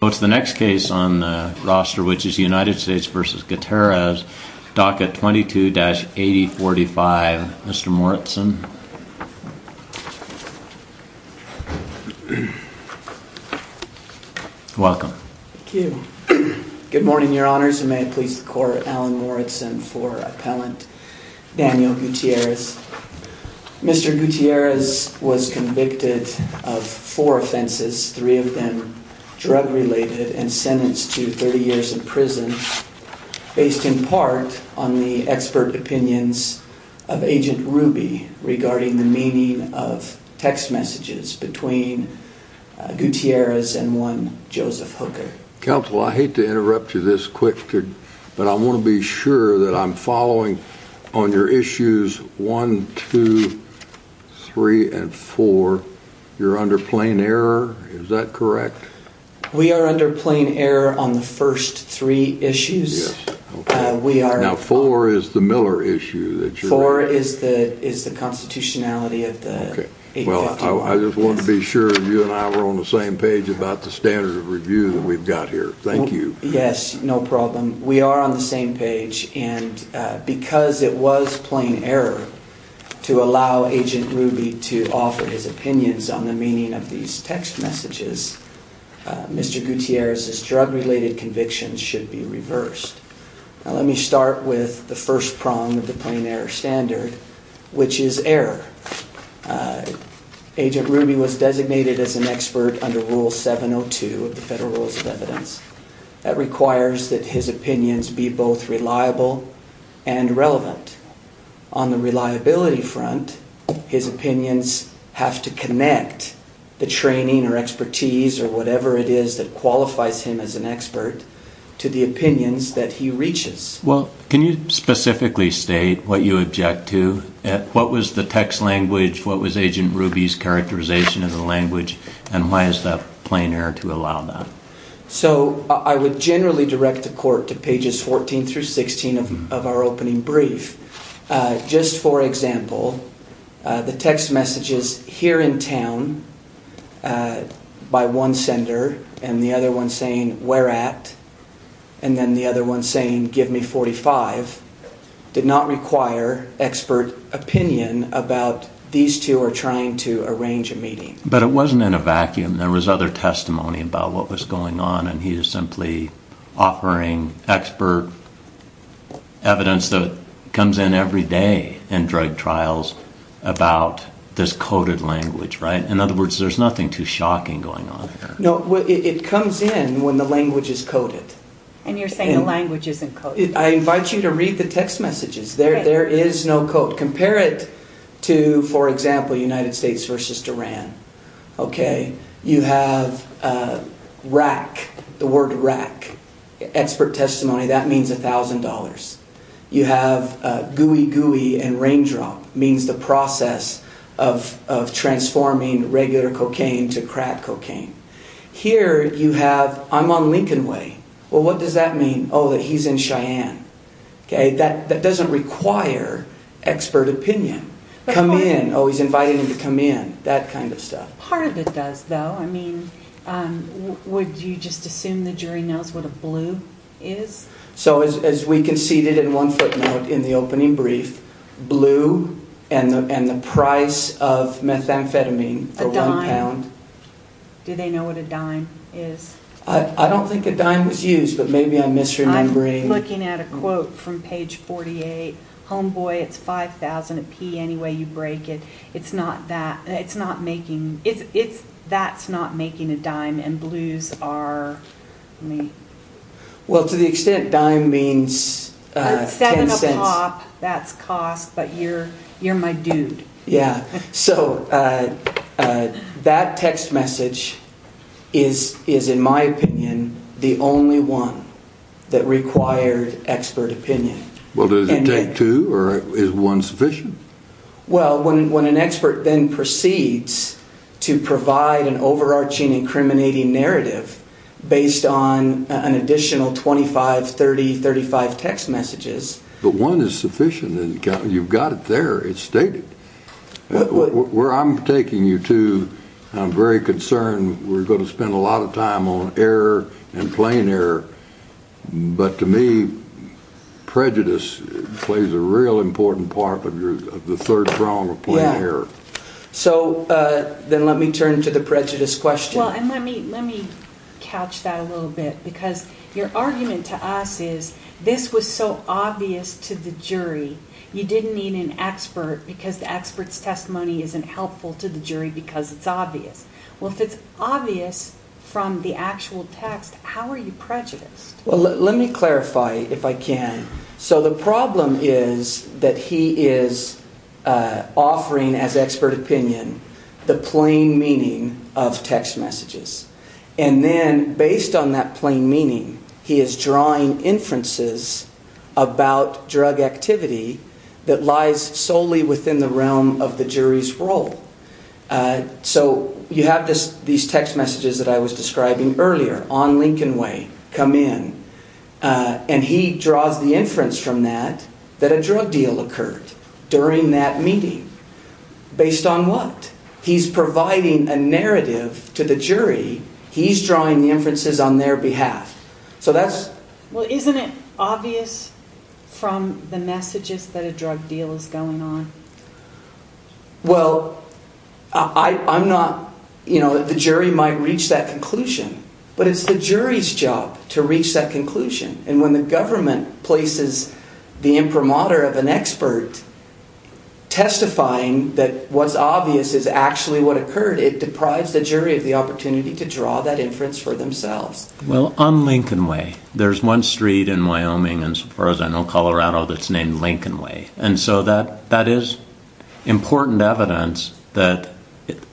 So it's the next case on the roster, which is United States v. Gutierrez, DACA 22-8045. Mr. Moritzen. Welcome. Thank you. Good morning, your honors, and may it please the court, Alan Moritzen for appellant Daniel Gutierrez. Mr. Gutierrez was convicted of four offenses, three of them drug-related, and sentenced to 30 years in prison, based in part on the expert opinions of Agent Ruby regarding the meaning of text messages between Gutierrez and one Joseph Hooker. Counsel, I hate to interrupt you this quick, but I want to be sure that I'm following on your issues 1, 2, 3, and 4. You're under plain error, is that correct? Mr. Gutierrez We are under plain error on the first three issues. Mr. Moritzen Yes, okay. Mr. Gutierrez We are. Mr. Moritzen Now, 4 is the Miller issue that you're Mr. Gutierrez 4 is the constitutionality of the 851. Mr. Moritzen Okay. Well, I just wanted to be sure you and I were on the same page about the standard of review that we've got here. Thank you. Mr. Gutierrez Yes, no problem. We are on the same page, and because it was plain error to allow Agent Ruby to offer his opinions on the meaning of these text messages, Mr. Gutierrez's drug-related convictions should be reversed. Now, let me start with the first prong of the plain error standard, which is error. Agent Ruby was designated as an expert under Rule 702 of the Federal Rules of Evidence. That requires that his opinions be both reliable and relevant. On the reliability front, his opinions have to connect the training or expertise or whatever it is that qualifies him as an expert to the opinions that he reaches. Mr. Moritzen Well, can you specifically state what you object to? What was the text language? What was Agent Ruby's characterization of the language, and why is that plain error to allow that? Mr. Gutierrez So, I would generally direct the Court to pages 14 through 16 of our opening brief. Just for example, the text messages, here in town, by one sender, and the other one saying, where at, and then the other one saying, give me 45, did not require expert opinion But it wasn't in a vacuum. There was other testimony about what was going on, and he is simply offering expert evidence that comes in every day in drug trials about this coded language, right? In other words, there's nothing too shocking going on here. Mr. Moritzen No, it comes in when the language is coded. Ms. Laird And you're saying the language isn't coded? Mr. Moritzen I invite you to read the text messages. There is no code. Compare it to, for example, United States versus Tehran. You have rack, the word rack, expert testimony, that means $1,000. You have gooey gooey and raindrop, means the process of transforming regular cocaine to crack cocaine. Here you have, I'm on Lincoln Way, well what does that mean? Oh, that he's in Cheyenne. That doesn't require expert opinion. Come in, oh he's inviting him to come in, that kind of stuff. Ms. Laird Part of it does though, I mean, would you just assume the jury knows what a blue is? Mr. Moritzen So as we conceded in one footnote in the opening brief, blue and the price of methamphetamine, a one pound. Ms. Laird A dime, do they know what a dime is? Mr. Moritzen I don't think a dime was used, but maybe I'm misremembering. Ms. Laird I'm looking at a quote from page 48, homeboy it's 5,000, a P anyway you break it, it's not that, it's not making, it's, that's not making a dime and blues are, let me. Mr. Moritzen Well to the extent dime means 10 cents. Ms. Laird Seven a pop, that's cost, but you're, you're my dude. Mr. Moritzen Yeah, so that text message is, is in my opinion the only one that required expert opinion. Mr. Davis Well, does it take two or is one sufficient? Mr. Moritzen Well, when, when an expert then proceeds to provide an overarching incriminating narrative based on an additional 25, 30, 35 text messages. Mr. Davis But one is sufficient and you've got it there, it's stated. Mr. Moritzen Well, Mr. Davis Where I'm taking you to, I'm very concerned we're going to spend a lot of time on error and plain error, but to me prejudice plays a real important part of your, of the third prong of plain error. Ms. Laird Well, so then let me turn to the prejudice question. Ms. Laird Well, and let me, let me couch that a little bit because your argument to us is this was so obvious to the jury. You didn't need an expert because the expert's testimony isn't helpful to the jury because it's obvious. Well, if it's obvious from the actual text, how are you prejudiced? Mr. Moritzen Well, let me clarify if I can. So the problem is that he is offering as expert opinion, the plain meaning of text messages. And then based on that plain meaning, he is drawing inferences about drug activity that lies solely within the realm of the jury's role. So you have this, these text messages that I was describing earlier on Lincoln Way come in and he draws the inference from that that a drug deal occurred during that meeting. Based on what? He's providing a narrative to the jury. He's drawing the inferences on their behalf. So that's... Ms. Laird Well, isn't it obvious from the messages that a drug deal is going on? Mr. Moritzen Well, I'm not, you know, the jury might reach that conclusion, but it's the jury's job to reach that conclusion. And when the government places the imprimatur of an expert testifying that what's obvious is actually what occurred, it deprives the jury of the opportunity to draw that inference for themselves. Mr. Laird Well, on Lincoln Way, there's one street in Wyoming and as far as I know, Colorado that's named Lincoln Way. And so that is important evidence that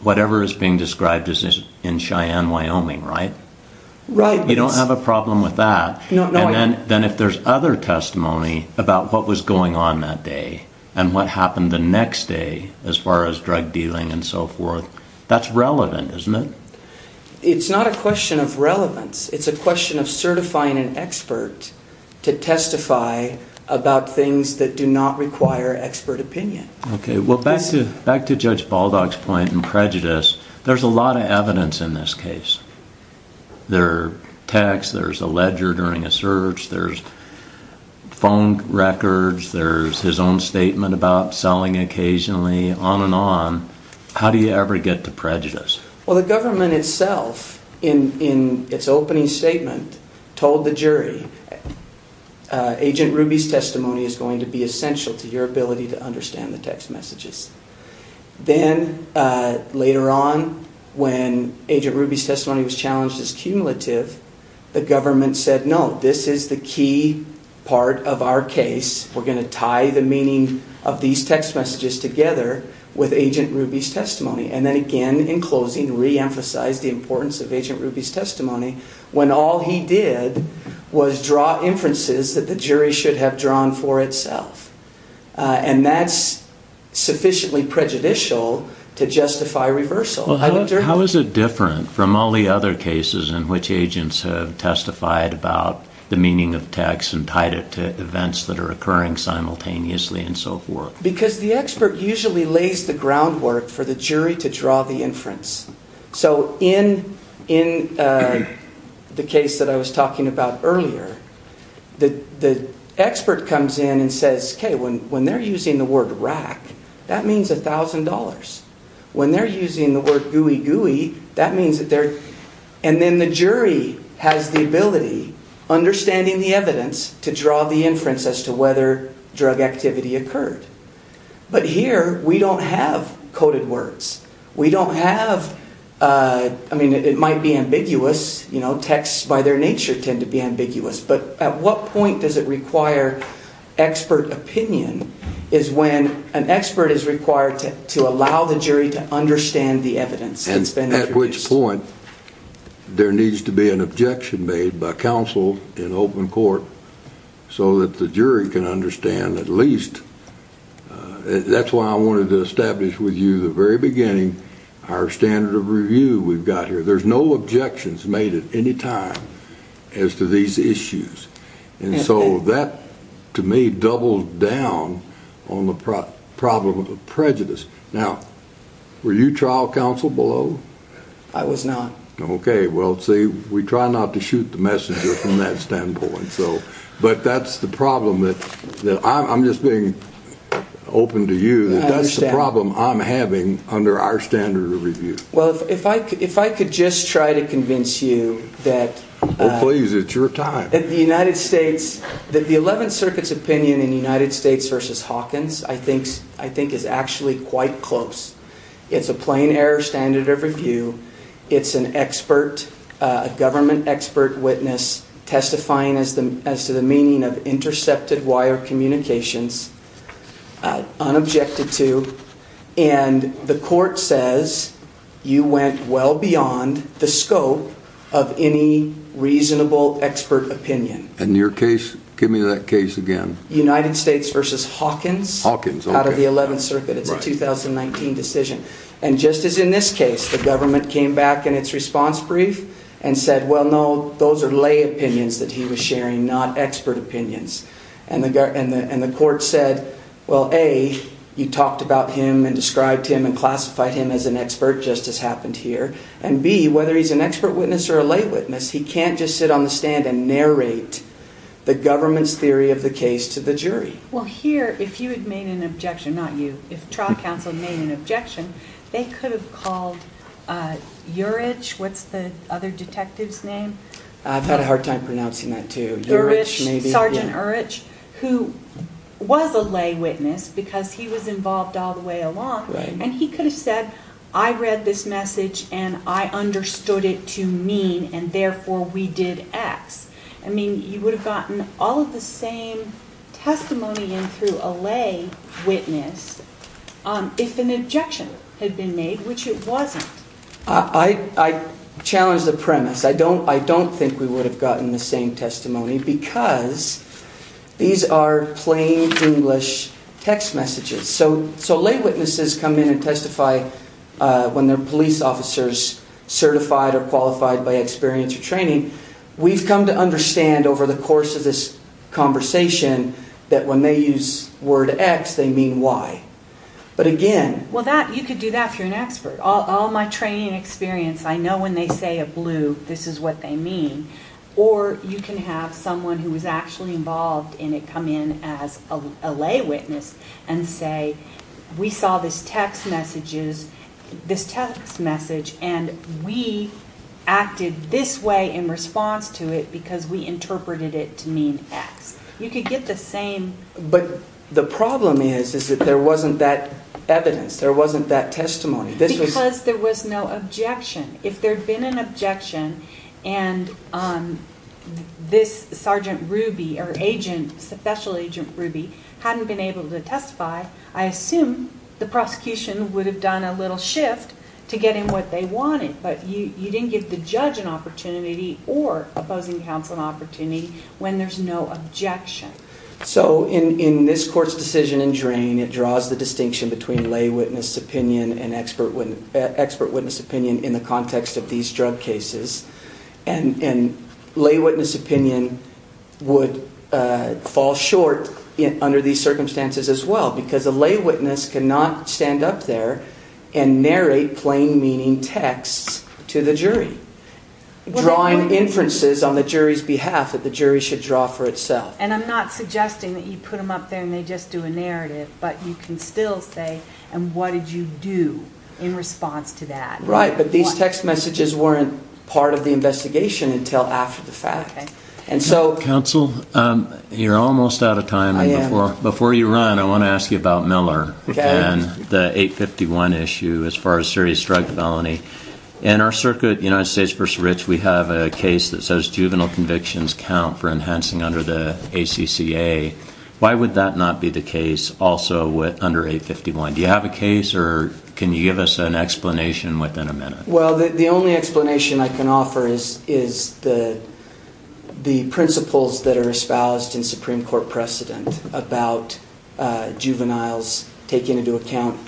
whatever is being described is in Cheyenne, Wyoming, right? Ms. Laird Right. Mr. Moritzen You don't have a problem with that. Ms. Laird No, I don't. Mr. Moritzen And then if there's other testimony about what was going on that day and what happened the next day as far as drug dealing and so forth, that's relevant, isn't it? Ms. Laird It's not a question of relevance. It's a question of certifying an expert to testify about things that do not require expert Mr. Laird Okay. Well, back to Judge Baldock's point in prejudice, there's a lot of evidence in this case. There are texts, there's a ledger during a search, there's phone records, there's his own statement about selling occasionally, on and on. How do you ever get to prejudice? Well, the government itself in its opening statement told the jury, Agent Ruby's testimony is going to be essential to your ability to understand the text messages. Then later on, when Agent Ruby's testimony was challenged as cumulative, the government said no, this is the key part of our case. We're going to tie the meaning of these text messages together with Agent Ruby's testimony. Then again, in closing, reemphasize the importance of Agent Ruby's testimony when all he did was draw inferences that the jury should have drawn for itself. That's sufficiently prejudicial to justify reversal. I looked at it. Judge Baldock How is it different from all the other cases in which agents have testified about the meaning of texts and tied it to events that are occurring simultaneously and so forth? Because the expert usually lays the groundwork for the jury to draw the inference. So in the case that I was talking about earlier, the expert comes in and says, okay, when they're using the word rack, that means $1,000. When they're using the word gooey-gooey, that means that they're... And then the jury has the ability, understanding the evidence, to draw the inference as to whether drug activity occurred. But here, we don't have coded words. We don't have... I mean, it might be ambiguous. Texts by their nature tend to be ambiguous. But at what point does it require expert opinion is when an expert is required to allow the jury to understand the evidence that's been introduced. At what point there needs to be an objection made by counsel in open court so that the jury can understand at least... That's why I wanted to establish with you the very beginning our standard of review we've got here. There's no objections made at any time as to these issues. And so that, to me, doubles down on the problem of prejudice. Now, were you trial counsel below? I was not. Okay. Well, see, we try not to shoot the messenger from that standpoint. But that's the problem that... I'm just being open to you that that's the problem I'm having under our standard of review. Well, if I could just try to convince you that... Oh, please. It's your time. That the United States... That the 11th Circuit's opinion in United States versus Hawkins, I think is actually quite close. It's a plain error standard of review. It's an expert, a government expert witness testifying as to the meaning of intercepted wire communications, unobjected to, and the court says you went well beyond the scope of any reasonable expert opinion. And your case, give me that case again. United States versus Hawkins. Hawkins, okay. Out of the 11th Circuit. Right. That's a 2019 decision. And just as in this case, the government came back in its response brief and said, well, no, those are lay opinions that he was sharing, not expert opinions. And the court said, well, A, you talked about him and described him and classified him as an expert, just as happened here. And B, whether he's an expert witness or a lay witness, he can't just sit on the stand Well, here, if you had made an objection, not you, if trial counsel made an objection, they could have called Urich, what's the other detective's name? I've had a hard time pronouncing that too. Urich, Sergeant Urich, who was a lay witness because he was involved all the way along. And he could have said, I read this message and I understood it to mean, and therefore we did X. I mean, you would have gotten all of the same testimony in through a lay witness if an objection had been made, which it wasn't. I challenge the premise. I don't think we would have gotten the same testimony because these are plain English text messages. So lay witnesses come in and testify when they're police officers certified or qualified by experience or training. We've come to understand over the course of this conversation that when they use the word X, they mean Y. But again... Well, you could do that if you're an expert. All my training and experience, I know when they say a blue, this is what they mean. Or you can have someone who was actually involved in it come in as a lay witness and say, we saw this text message and we acted this way in response to it because we interpreted it to mean X. You could get the same... But the problem is that there wasn't that evidence. There wasn't that testimony. Because there was no objection. If there had been an objection and this Sergeant Ruby or Special Agent Ruby hadn't been able to testify, I assume the prosecution would have done a little shift to get him what they wanted. But you didn't give the judge an opportunity or opposing counsel an opportunity when there's no objection. So in this court's decision in Drain, it draws the distinction between lay witness opinion and expert witness opinion in the context of these drug cases. And lay witness opinion would fall short under these circumstances as well because a lay witness cannot stand up there and narrate plain meaning texts to the jury, drawing inferences on the jury's behalf that the jury should draw for itself. And I'm not suggesting that you put them up there and they just do a narrative. But you can still say, and what did you do in response to that? Right, but these text messages weren't part of the investigation until after the fact. And so... Counsel, you're almost out of time. Before you run, I want to ask you about Miller and the 851 issue as far as serious drug felony. In our circuit, United States v. Rich, we have a case that says juvenile convictions count for enhancing under the ACCA. Why would that not be the case also under 851? Do you have a case or can you give us an explanation within a minute? Well, the only explanation I can offer is the principles that are espoused in Supreme Court precedent about juveniles taking into account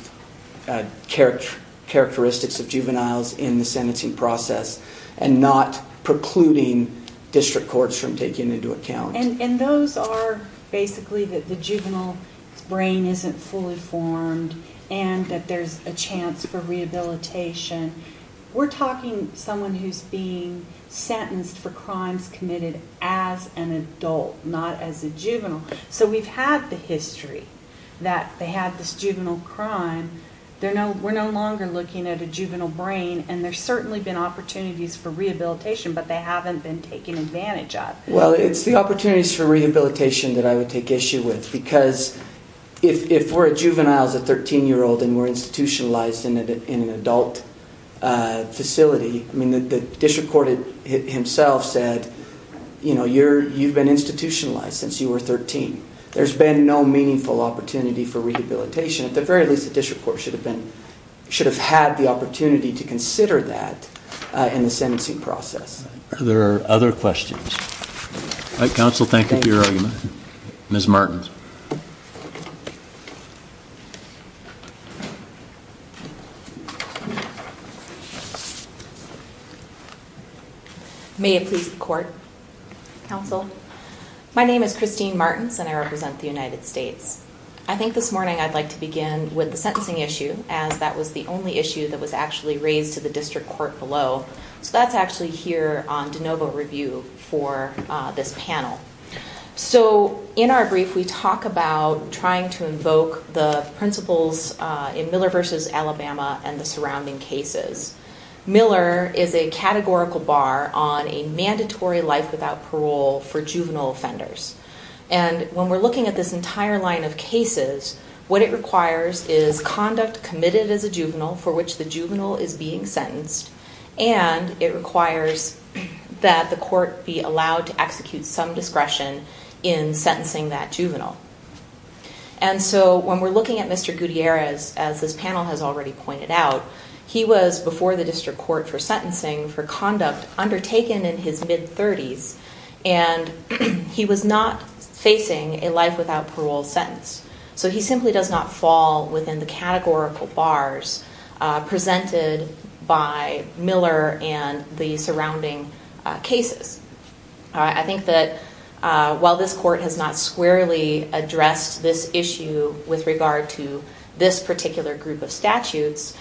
characteristics of juveniles in the sentencing process and not precluding district courts from taking into account. And those are basically that the juvenile brain isn't fully formed and that there's a chance for rehabilitation. We're talking someone who's being sentenced for crimes committed as an adult, not as a juvenile. So we've had the history that they had this juvenile crime. We're no longer looking at a juvenile brain. And there's certainly been opportunities for rehabilitation, but they haven't been taken advantage of. Well, it's the opportunities for rehabilitation that I would take issue with, because if we're a juvenile as a 13-year-old and we're institutionalized in an adult facility, I mean, the district court himself said, you know, you've been institutionalized since you were 13. There's been no meaningful opportunity for rehabilitation. At the very least, the district court should have been, should have had the opportunity to consider that in the sentencing process. There are other questions. All right, counsel, thank you for your argument. Ms. Martins. May it please the court, counsel. My name is Christine Martins, and I represent the United States. I think this morning I'd like to begin with the sentencing issue, as that was the only issue that was actually raised to the district court below. So that's actually here on de novo review for this panel. So in our brief, we talk about trying to invoke the principles in Miller v. Alabama and the surrounding cases. Miller is a categorical bar on a mandatory life without parole for juvenile offenders. And when we're looking at this entire line of cases, what it requires is conduct committed as a juvenile for which the juvenile is being sentenced, and it requires that the court be allowed to execute some discretion in sentencing that juvenile. And so when we're looking at Mr. Gutierrez, as this panel has already pointed out, he was before the district court for sentencing for conduct undertaken in his mid-30s, and he was not facing a life without parole sentence. So he simply does not fall within the categorical bars presented by Miller and the surrounding cases. I think that while this court has not squarely addressed this issue with regard to this particular group of statutes,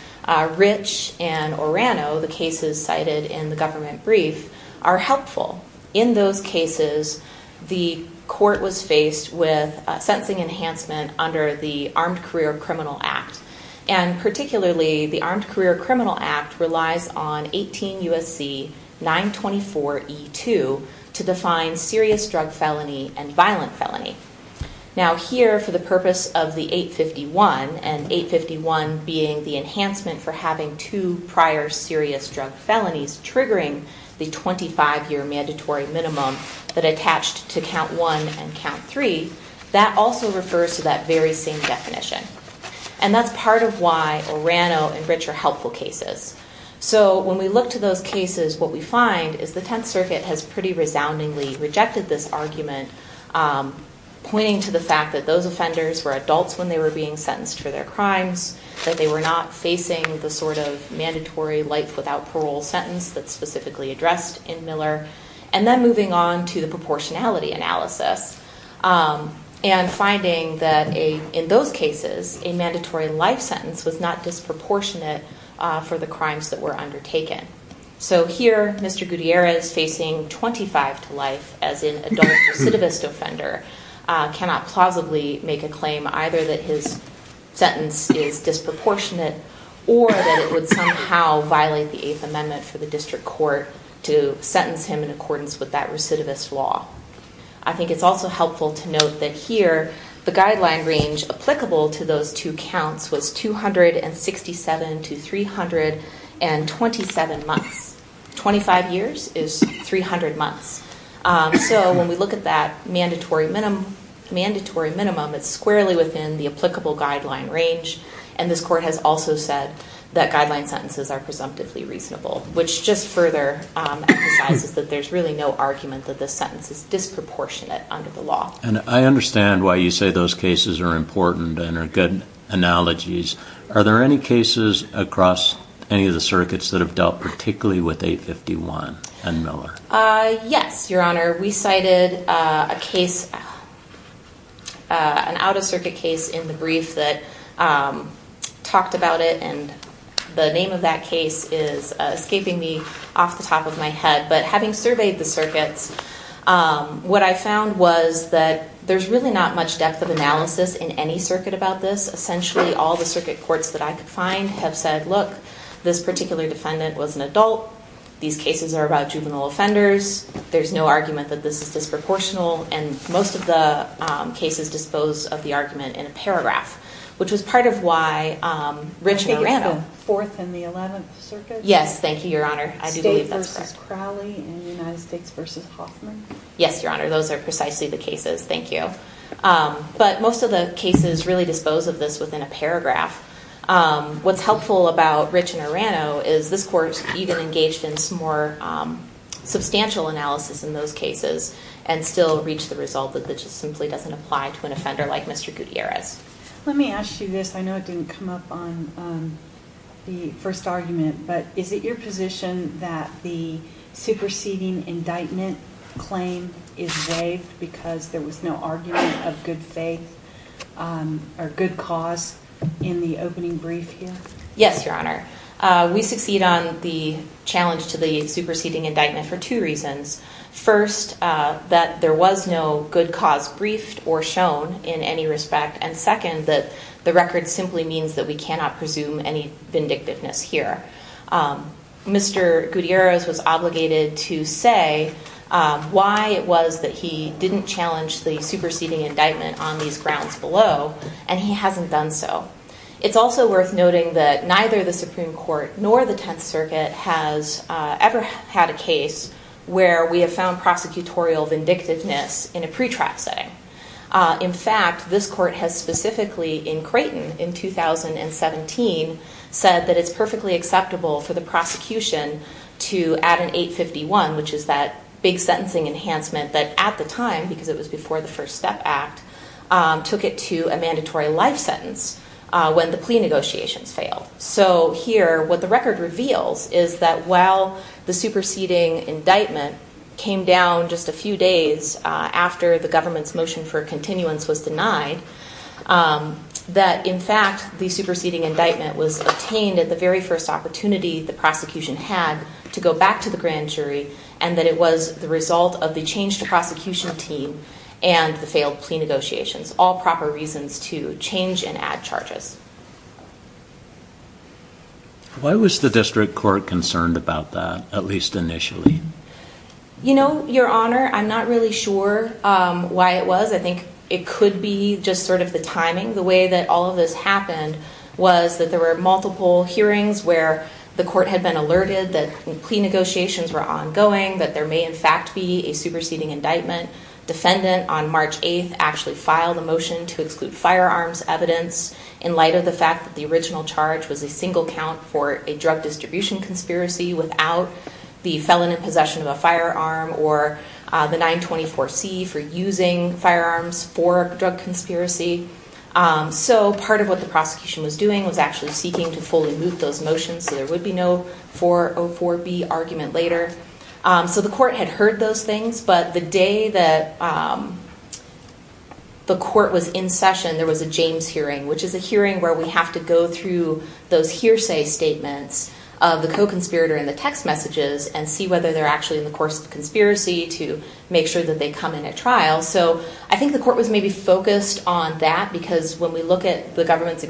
Rich and Orano, the cases cited in the government brief, are helpful. In those cases, the court was faced with a sentencing enhancement under the Armed Career Criminal Act. And particularly, the Armed Career Criminal Act relies on 18 U.S.C. 924E2 to define serious drug felony and violent felony. Now here, for the purpose of the 851, and 851 being the enhancement for having two prior serious drug felonies triggering the 25-year mandatory minimum that attached to count one and count three, that also refers to that very same definition. And that's part of why Orano and Rich are helpful cases. So when we look to those cases, what we find is the Tenth Circuit has pretty resoundingly rejected this argument, pointing to the fact that those offenders were adults when they were being sentenced for their crimes, that they were not facing the sort of mandatory life without parole sentence that's specifically addressed in Miller. And then moving on to the proportionality analysis and finding that in those cases, a mandatory life sentence was not disproportionate for the crimes that were undertaken. So here, Mr. Gutierrez facing 25 to life as an adult recidivist offender cannot plausibly make a claim either that his sentence is disproportionate or that it would somehow violate the Eighth Amendment for the District Court to sentence him in accordance with that recidivist law. I think it's also helpful to note that here, the guideline range applicable to those two counts was 267 to 327 months. Twenty-five years is 300 months. So when we look at that mandatory minimum, it's squarely within the applicable guideline range. And this Court has also said that guideline sentences are presumptively reasonable, which just further emphasizes that there's really no argument that this sentence is disproportionate under the law. And I understand why you say those cases are important and are good analogies. Are there any cases across any of the circuits that have dealt particularly with 851 and Miller? Yes, Your Honor. We cited a case, an out-of-circuit case in the brief that talked about it, and the name of that case is escaping me off the top of my head. But having surveyed the circuits, what I found was that there's really not much depth of analysis in any circuit about this. Essentially, all the circuit courts that I could find have said, look, this particular defendant was an adult. These cases are about juvenile offenders. There's no argument that this is disproportional. And most of the cases dispose of the argument in a paragraph, which was part of why Rich and Orano— I think it was the Fourth and the Eleventh Circuit? Yes, thank you, Your Honor. I do believe that's correct. State v. Crowley and United States v. Hoffman? Yes, Your Honor. Those are precisely the cases, thank you. But most of the cases really dispose of this within a paragraph. What's helpful about Rich and Orano is this court even engaged in some more substantial analysis in those cases and still reached the result that it just simply doesn't apply to an offender like Mr. Gutierrez. Let me ask you this. I know it didn't come up on the first argument, but is it your position that the superseding indictment claim is waived because there was no argument of good faith or good cause in the opening brief here? Yes, Your Honor. We succeed on the challenge to the superseding indictment for two reasons. First, that there was no good cause briefed or shown in any respect. And second, that the record simply means that we cannot presume any vindictiveness here. Mr. Gutierrez was obligated to say why it was that he didn't challenge the superseding indictment on these grounds below, and he hasn't done so. It's also worth noting that neither the Supreme Court nor the Tenth Circuit has ever had a case where we have found prosecutorial vindictiveness in a pretrial setting. In fact, this court has specifically in Creighton in 2017 said that it's perfectly acceptable for the prosecution to add an 851, which is that big sentencing enhancement that at the time, because it was before the First Step Act, took it to a mandatory life sentence when the plea negotiations failed. So here, what the record reveals is that while the superseding indictment came down just a few days after the government's motion for continuance was denied, that in fact the superseding indictment was obtained at the very first opportunity the prosecution had to go back to the grand jury, and that it was the result of the change to prosecution team and the failed plea negotiations. All proper reasons to change and add charges. Why was the district court concerned about that, at least initially? You know, Your Honor, I'm not really sure why it was. I think it could be just sort of the timing. The way that all of this happened was that there were multiple hearings where the court had been alerted that plea negotiations were ongoing, that there may in fact be a superseding indictment. Defendant, on March 8th, actually filed a motion to exclude firearms evidence in light of the fact that the original charge was a single count for a drug distribution conspiracy without the felon in possession of a firearm or the 924C for using firearms for drug conspiracy. So part of what the prosecution was doing was actually seeking to fully moot those motions so there would be no 404B argument later. So the court had heard those things, but the day that the court was in session, there was a James hearing, which is a hearing where we have to go through those hearsay statements of the co-conspirator in the text messages and see whether they're actually in the course of conspiracy to make sure that they come in at trial. So I think the court was maybe focused on that because when we look at the government's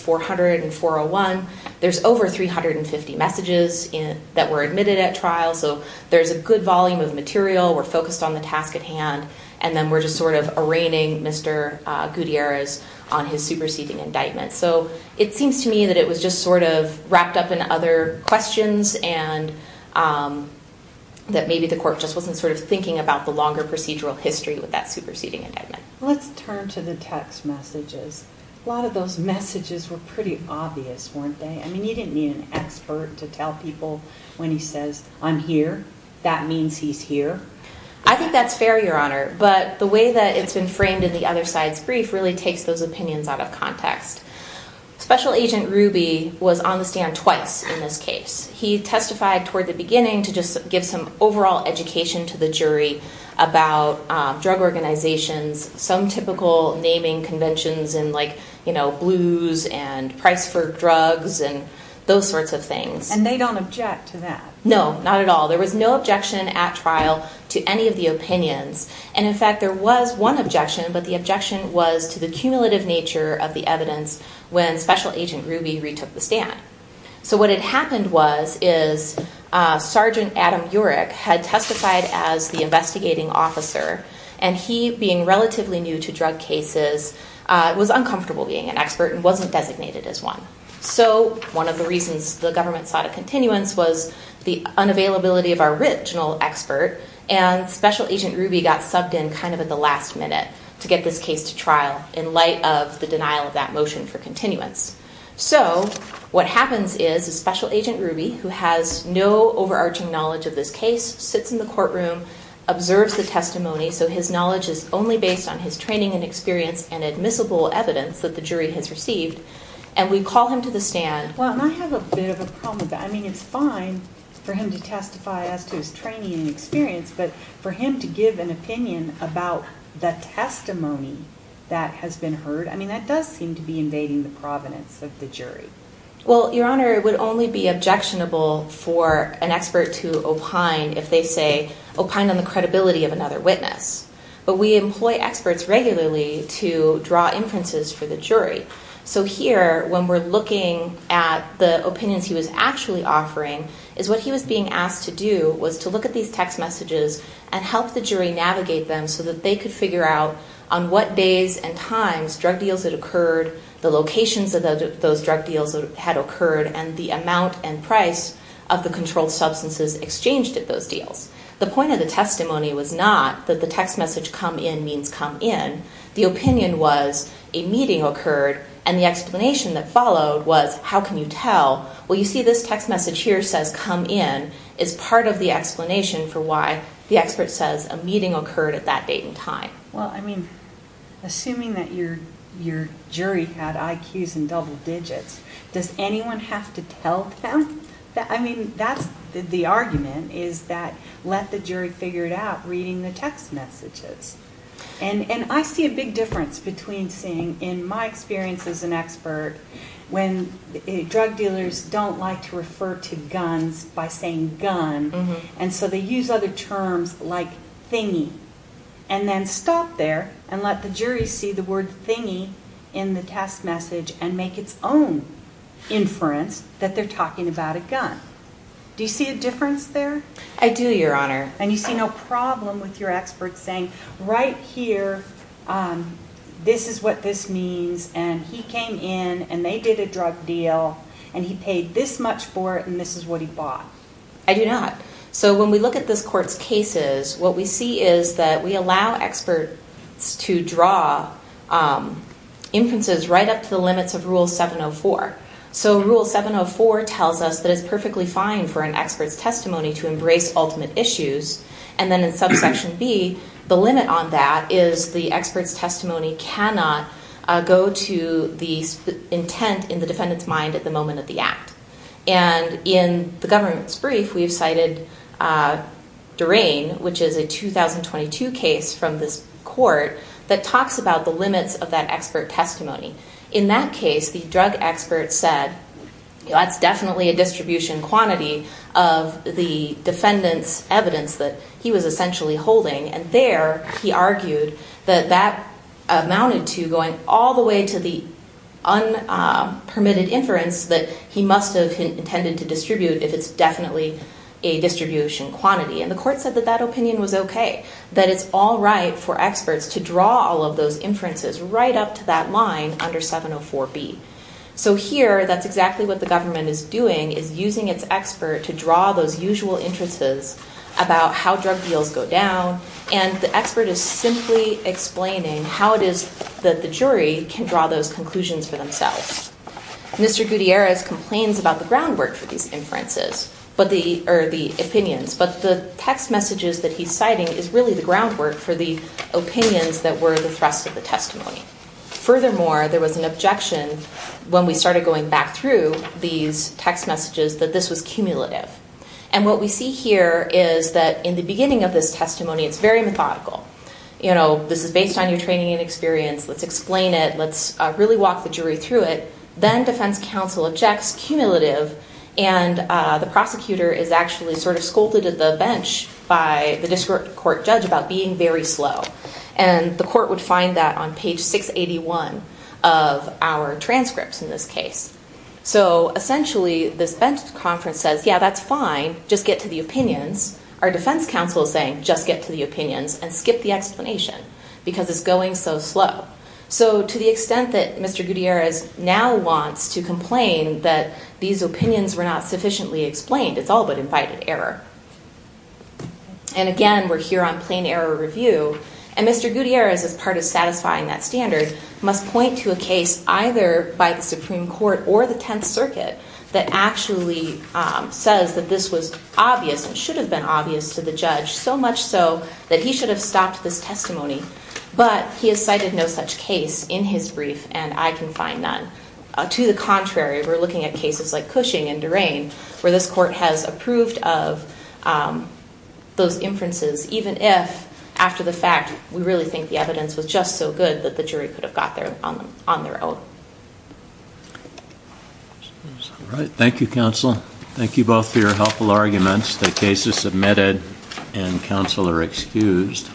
401, there's over 350 messages that were admitted at trial. So there's a good volume of material, we're focused on the task at hand, and then we're just sort of arraigning Mr. Gutierrez on his superseding indictment. So it seems to me that it was just sort of wrapped up in other questions and that maybe the court just wasn't sort of thinking about the longer procedural history with that superseding indictment. Let's turn to the text messages. A lot of those messages were pretty obvious, weren't they? I mean, you didn't need an expert to tell people when he says, I'm here, that means he's here. I think that's fair, Your Honor, but the way that it's been framed in the other side's brief really takes those opinions out of context. Special Agent Ruby was on the stand twice in this case. He testified toward the beginning to just give some overall education to the jury about drug organizations, some typical naming conventions and like, you know, blues and price for drugs and those sorts of things. And they don't object to that? No, not at all. There was no objection at trial to any of the opinions. And in fact, there was one objection, but the objection was to the cumulative nature of the evidence when Special Agent Ruby retook the stand. So what had happened was is Sergeant Adam Yorick had testified as the investigating officer and he, being relatively new to drug cases, was uncomfortable being an expert and wasn't designated as one. So one of the reasons the government sought a continuance was the unavailability of our original expert and Special Agent Ruby got subbed in kind of at the last minute to get this case to trial in light of the denial of that motion for continuance. So what happens is Special Agent Ruby, who has no overarching knowledge of this case, sits in the courtroom, observes the testimony, so his knowledge is only based on his training and experience and admissible evidence that the jury has received, and we call him to the stand. Well, and I have a bit of a problem with that. I mean, it's fine for him to testify as to his training and experience, but for him to give an opinion about the testimony that has been heard, I mean, that does seem to be invading the provenance of the jury. Well, Your Honor, it would only be objectionable for an expert to opine if they say, opine on the credibility of another witness. But we employ experts regularly to draw inferences for the jury. So here, when we're looking at the opinions he was actually offering, is what he was being asked to do was to look at these text messages and help the jury navigate them so that they could figure out on what days and times drug deals had occurred, the locations of those drug deals that had occurred, and the amount and price of the controlled substances exchanged at those deals. The point of the testimony was not that the text message, come in, means come in. The opinion was, a meeting occurred, and the explanation that followed was, how can you tell? Well, you see this text message here says, come in, is part of the explanation for why the expert says a meeting occurred at that date and time. Well, I mean, assuming that your jury had IQs in double digits, does anyone have to tell them? I mean, that's the argument, is that, let the jury figure it out reading the text messages. And I see a big difference between seeing, in my experience as an expert, when drug dealers don't like to refer to guns by saying gun, and so they use other terms like thingy. And then stop there and let the jury see the word thingy in the text message and make its own inference that they're talking about a gun. Do you see a difference there? I do, Your Honor. And you see no problem with your expert saying, right here, this is what this means, and he paid this much for it, and this is what he bought. I do not. So when we look at this court's cases, what we see is that we allow experts to draw inferences right up to the limits of Rule 704. So Rule 704 tells us that it's perfectly fine for an expert's testimony to embrace ultimate issues, and then in Subsection B, the limit on that is the expert's testimony cannot go to the intent in the defendant's mind at the moment of the act. And in the government's brief, we've cited Durain, which is a 2022 case from this court that talks about the limits of that expert testimony. In that case, the drug expert said, that's definitely a distribution quantity of the defendant's evidence that he was essentially holding. And there, he argued that that amounted to going all the way to the unpermitted inference that he must have intended to distribute if it's definitely a distribution quantity. And the court said that that opinion was okay, that it's all right for experts to draw all of those inferences right up to that line under 704B. So here, that's exactly what the government is doing, is using its expert to draw those inferences, and the expert is simply explaining how it is that the jury can draw those conclusions for themselves. Mr. Gutierrez complains about the groundwork for these inferences, or the opinions, but the text messages that he's citing is really the groundwork for the opinions that were the thrust of the testimony. Furthermore, there was an objection when we started going back through these text messages that this was cumulative. And what we see here is that in the beginning of this testimony, it's very methodical. You know, this is based on your training and experience, let's explain it, let's really walk the jury through it, then defense counsel objects, cumulative, and the prosecutor is actually sort of scolded at the bench by the district court judge about being very slow. And the court would find that on page 681 of our transcripts in this case. So essentially, this bench conference says, yeah, that's fine, just get to the opinions. Our defense counsel is saying, just get to the opinions and skip the explanation, because it's going so slow. So to the extent that Mr. Gutierrez now wants to complain that these opinions were not sufficiently explained, it's all but invited error. And again, we're here on plain error review. And Mr. Gutierrez, as part of satisfying that standard, must point to a case either by the Supreme Court or the Tenth Circuit that actually says that this was obvious and should have been obvious to the judge, so much so that he should have stopped this testimony. But he has cited no such case in his brief, and I can find none. To the contrary, we're looking at cases like Cushing and Durain, where this court has approved of those inferences, even if, after the fact, we really think the evidence was just so good that the jury could have got there on their own. All right. Thank you, counsel. Thank you both for your helpful arguments. The case is submitted, and counsel are excused.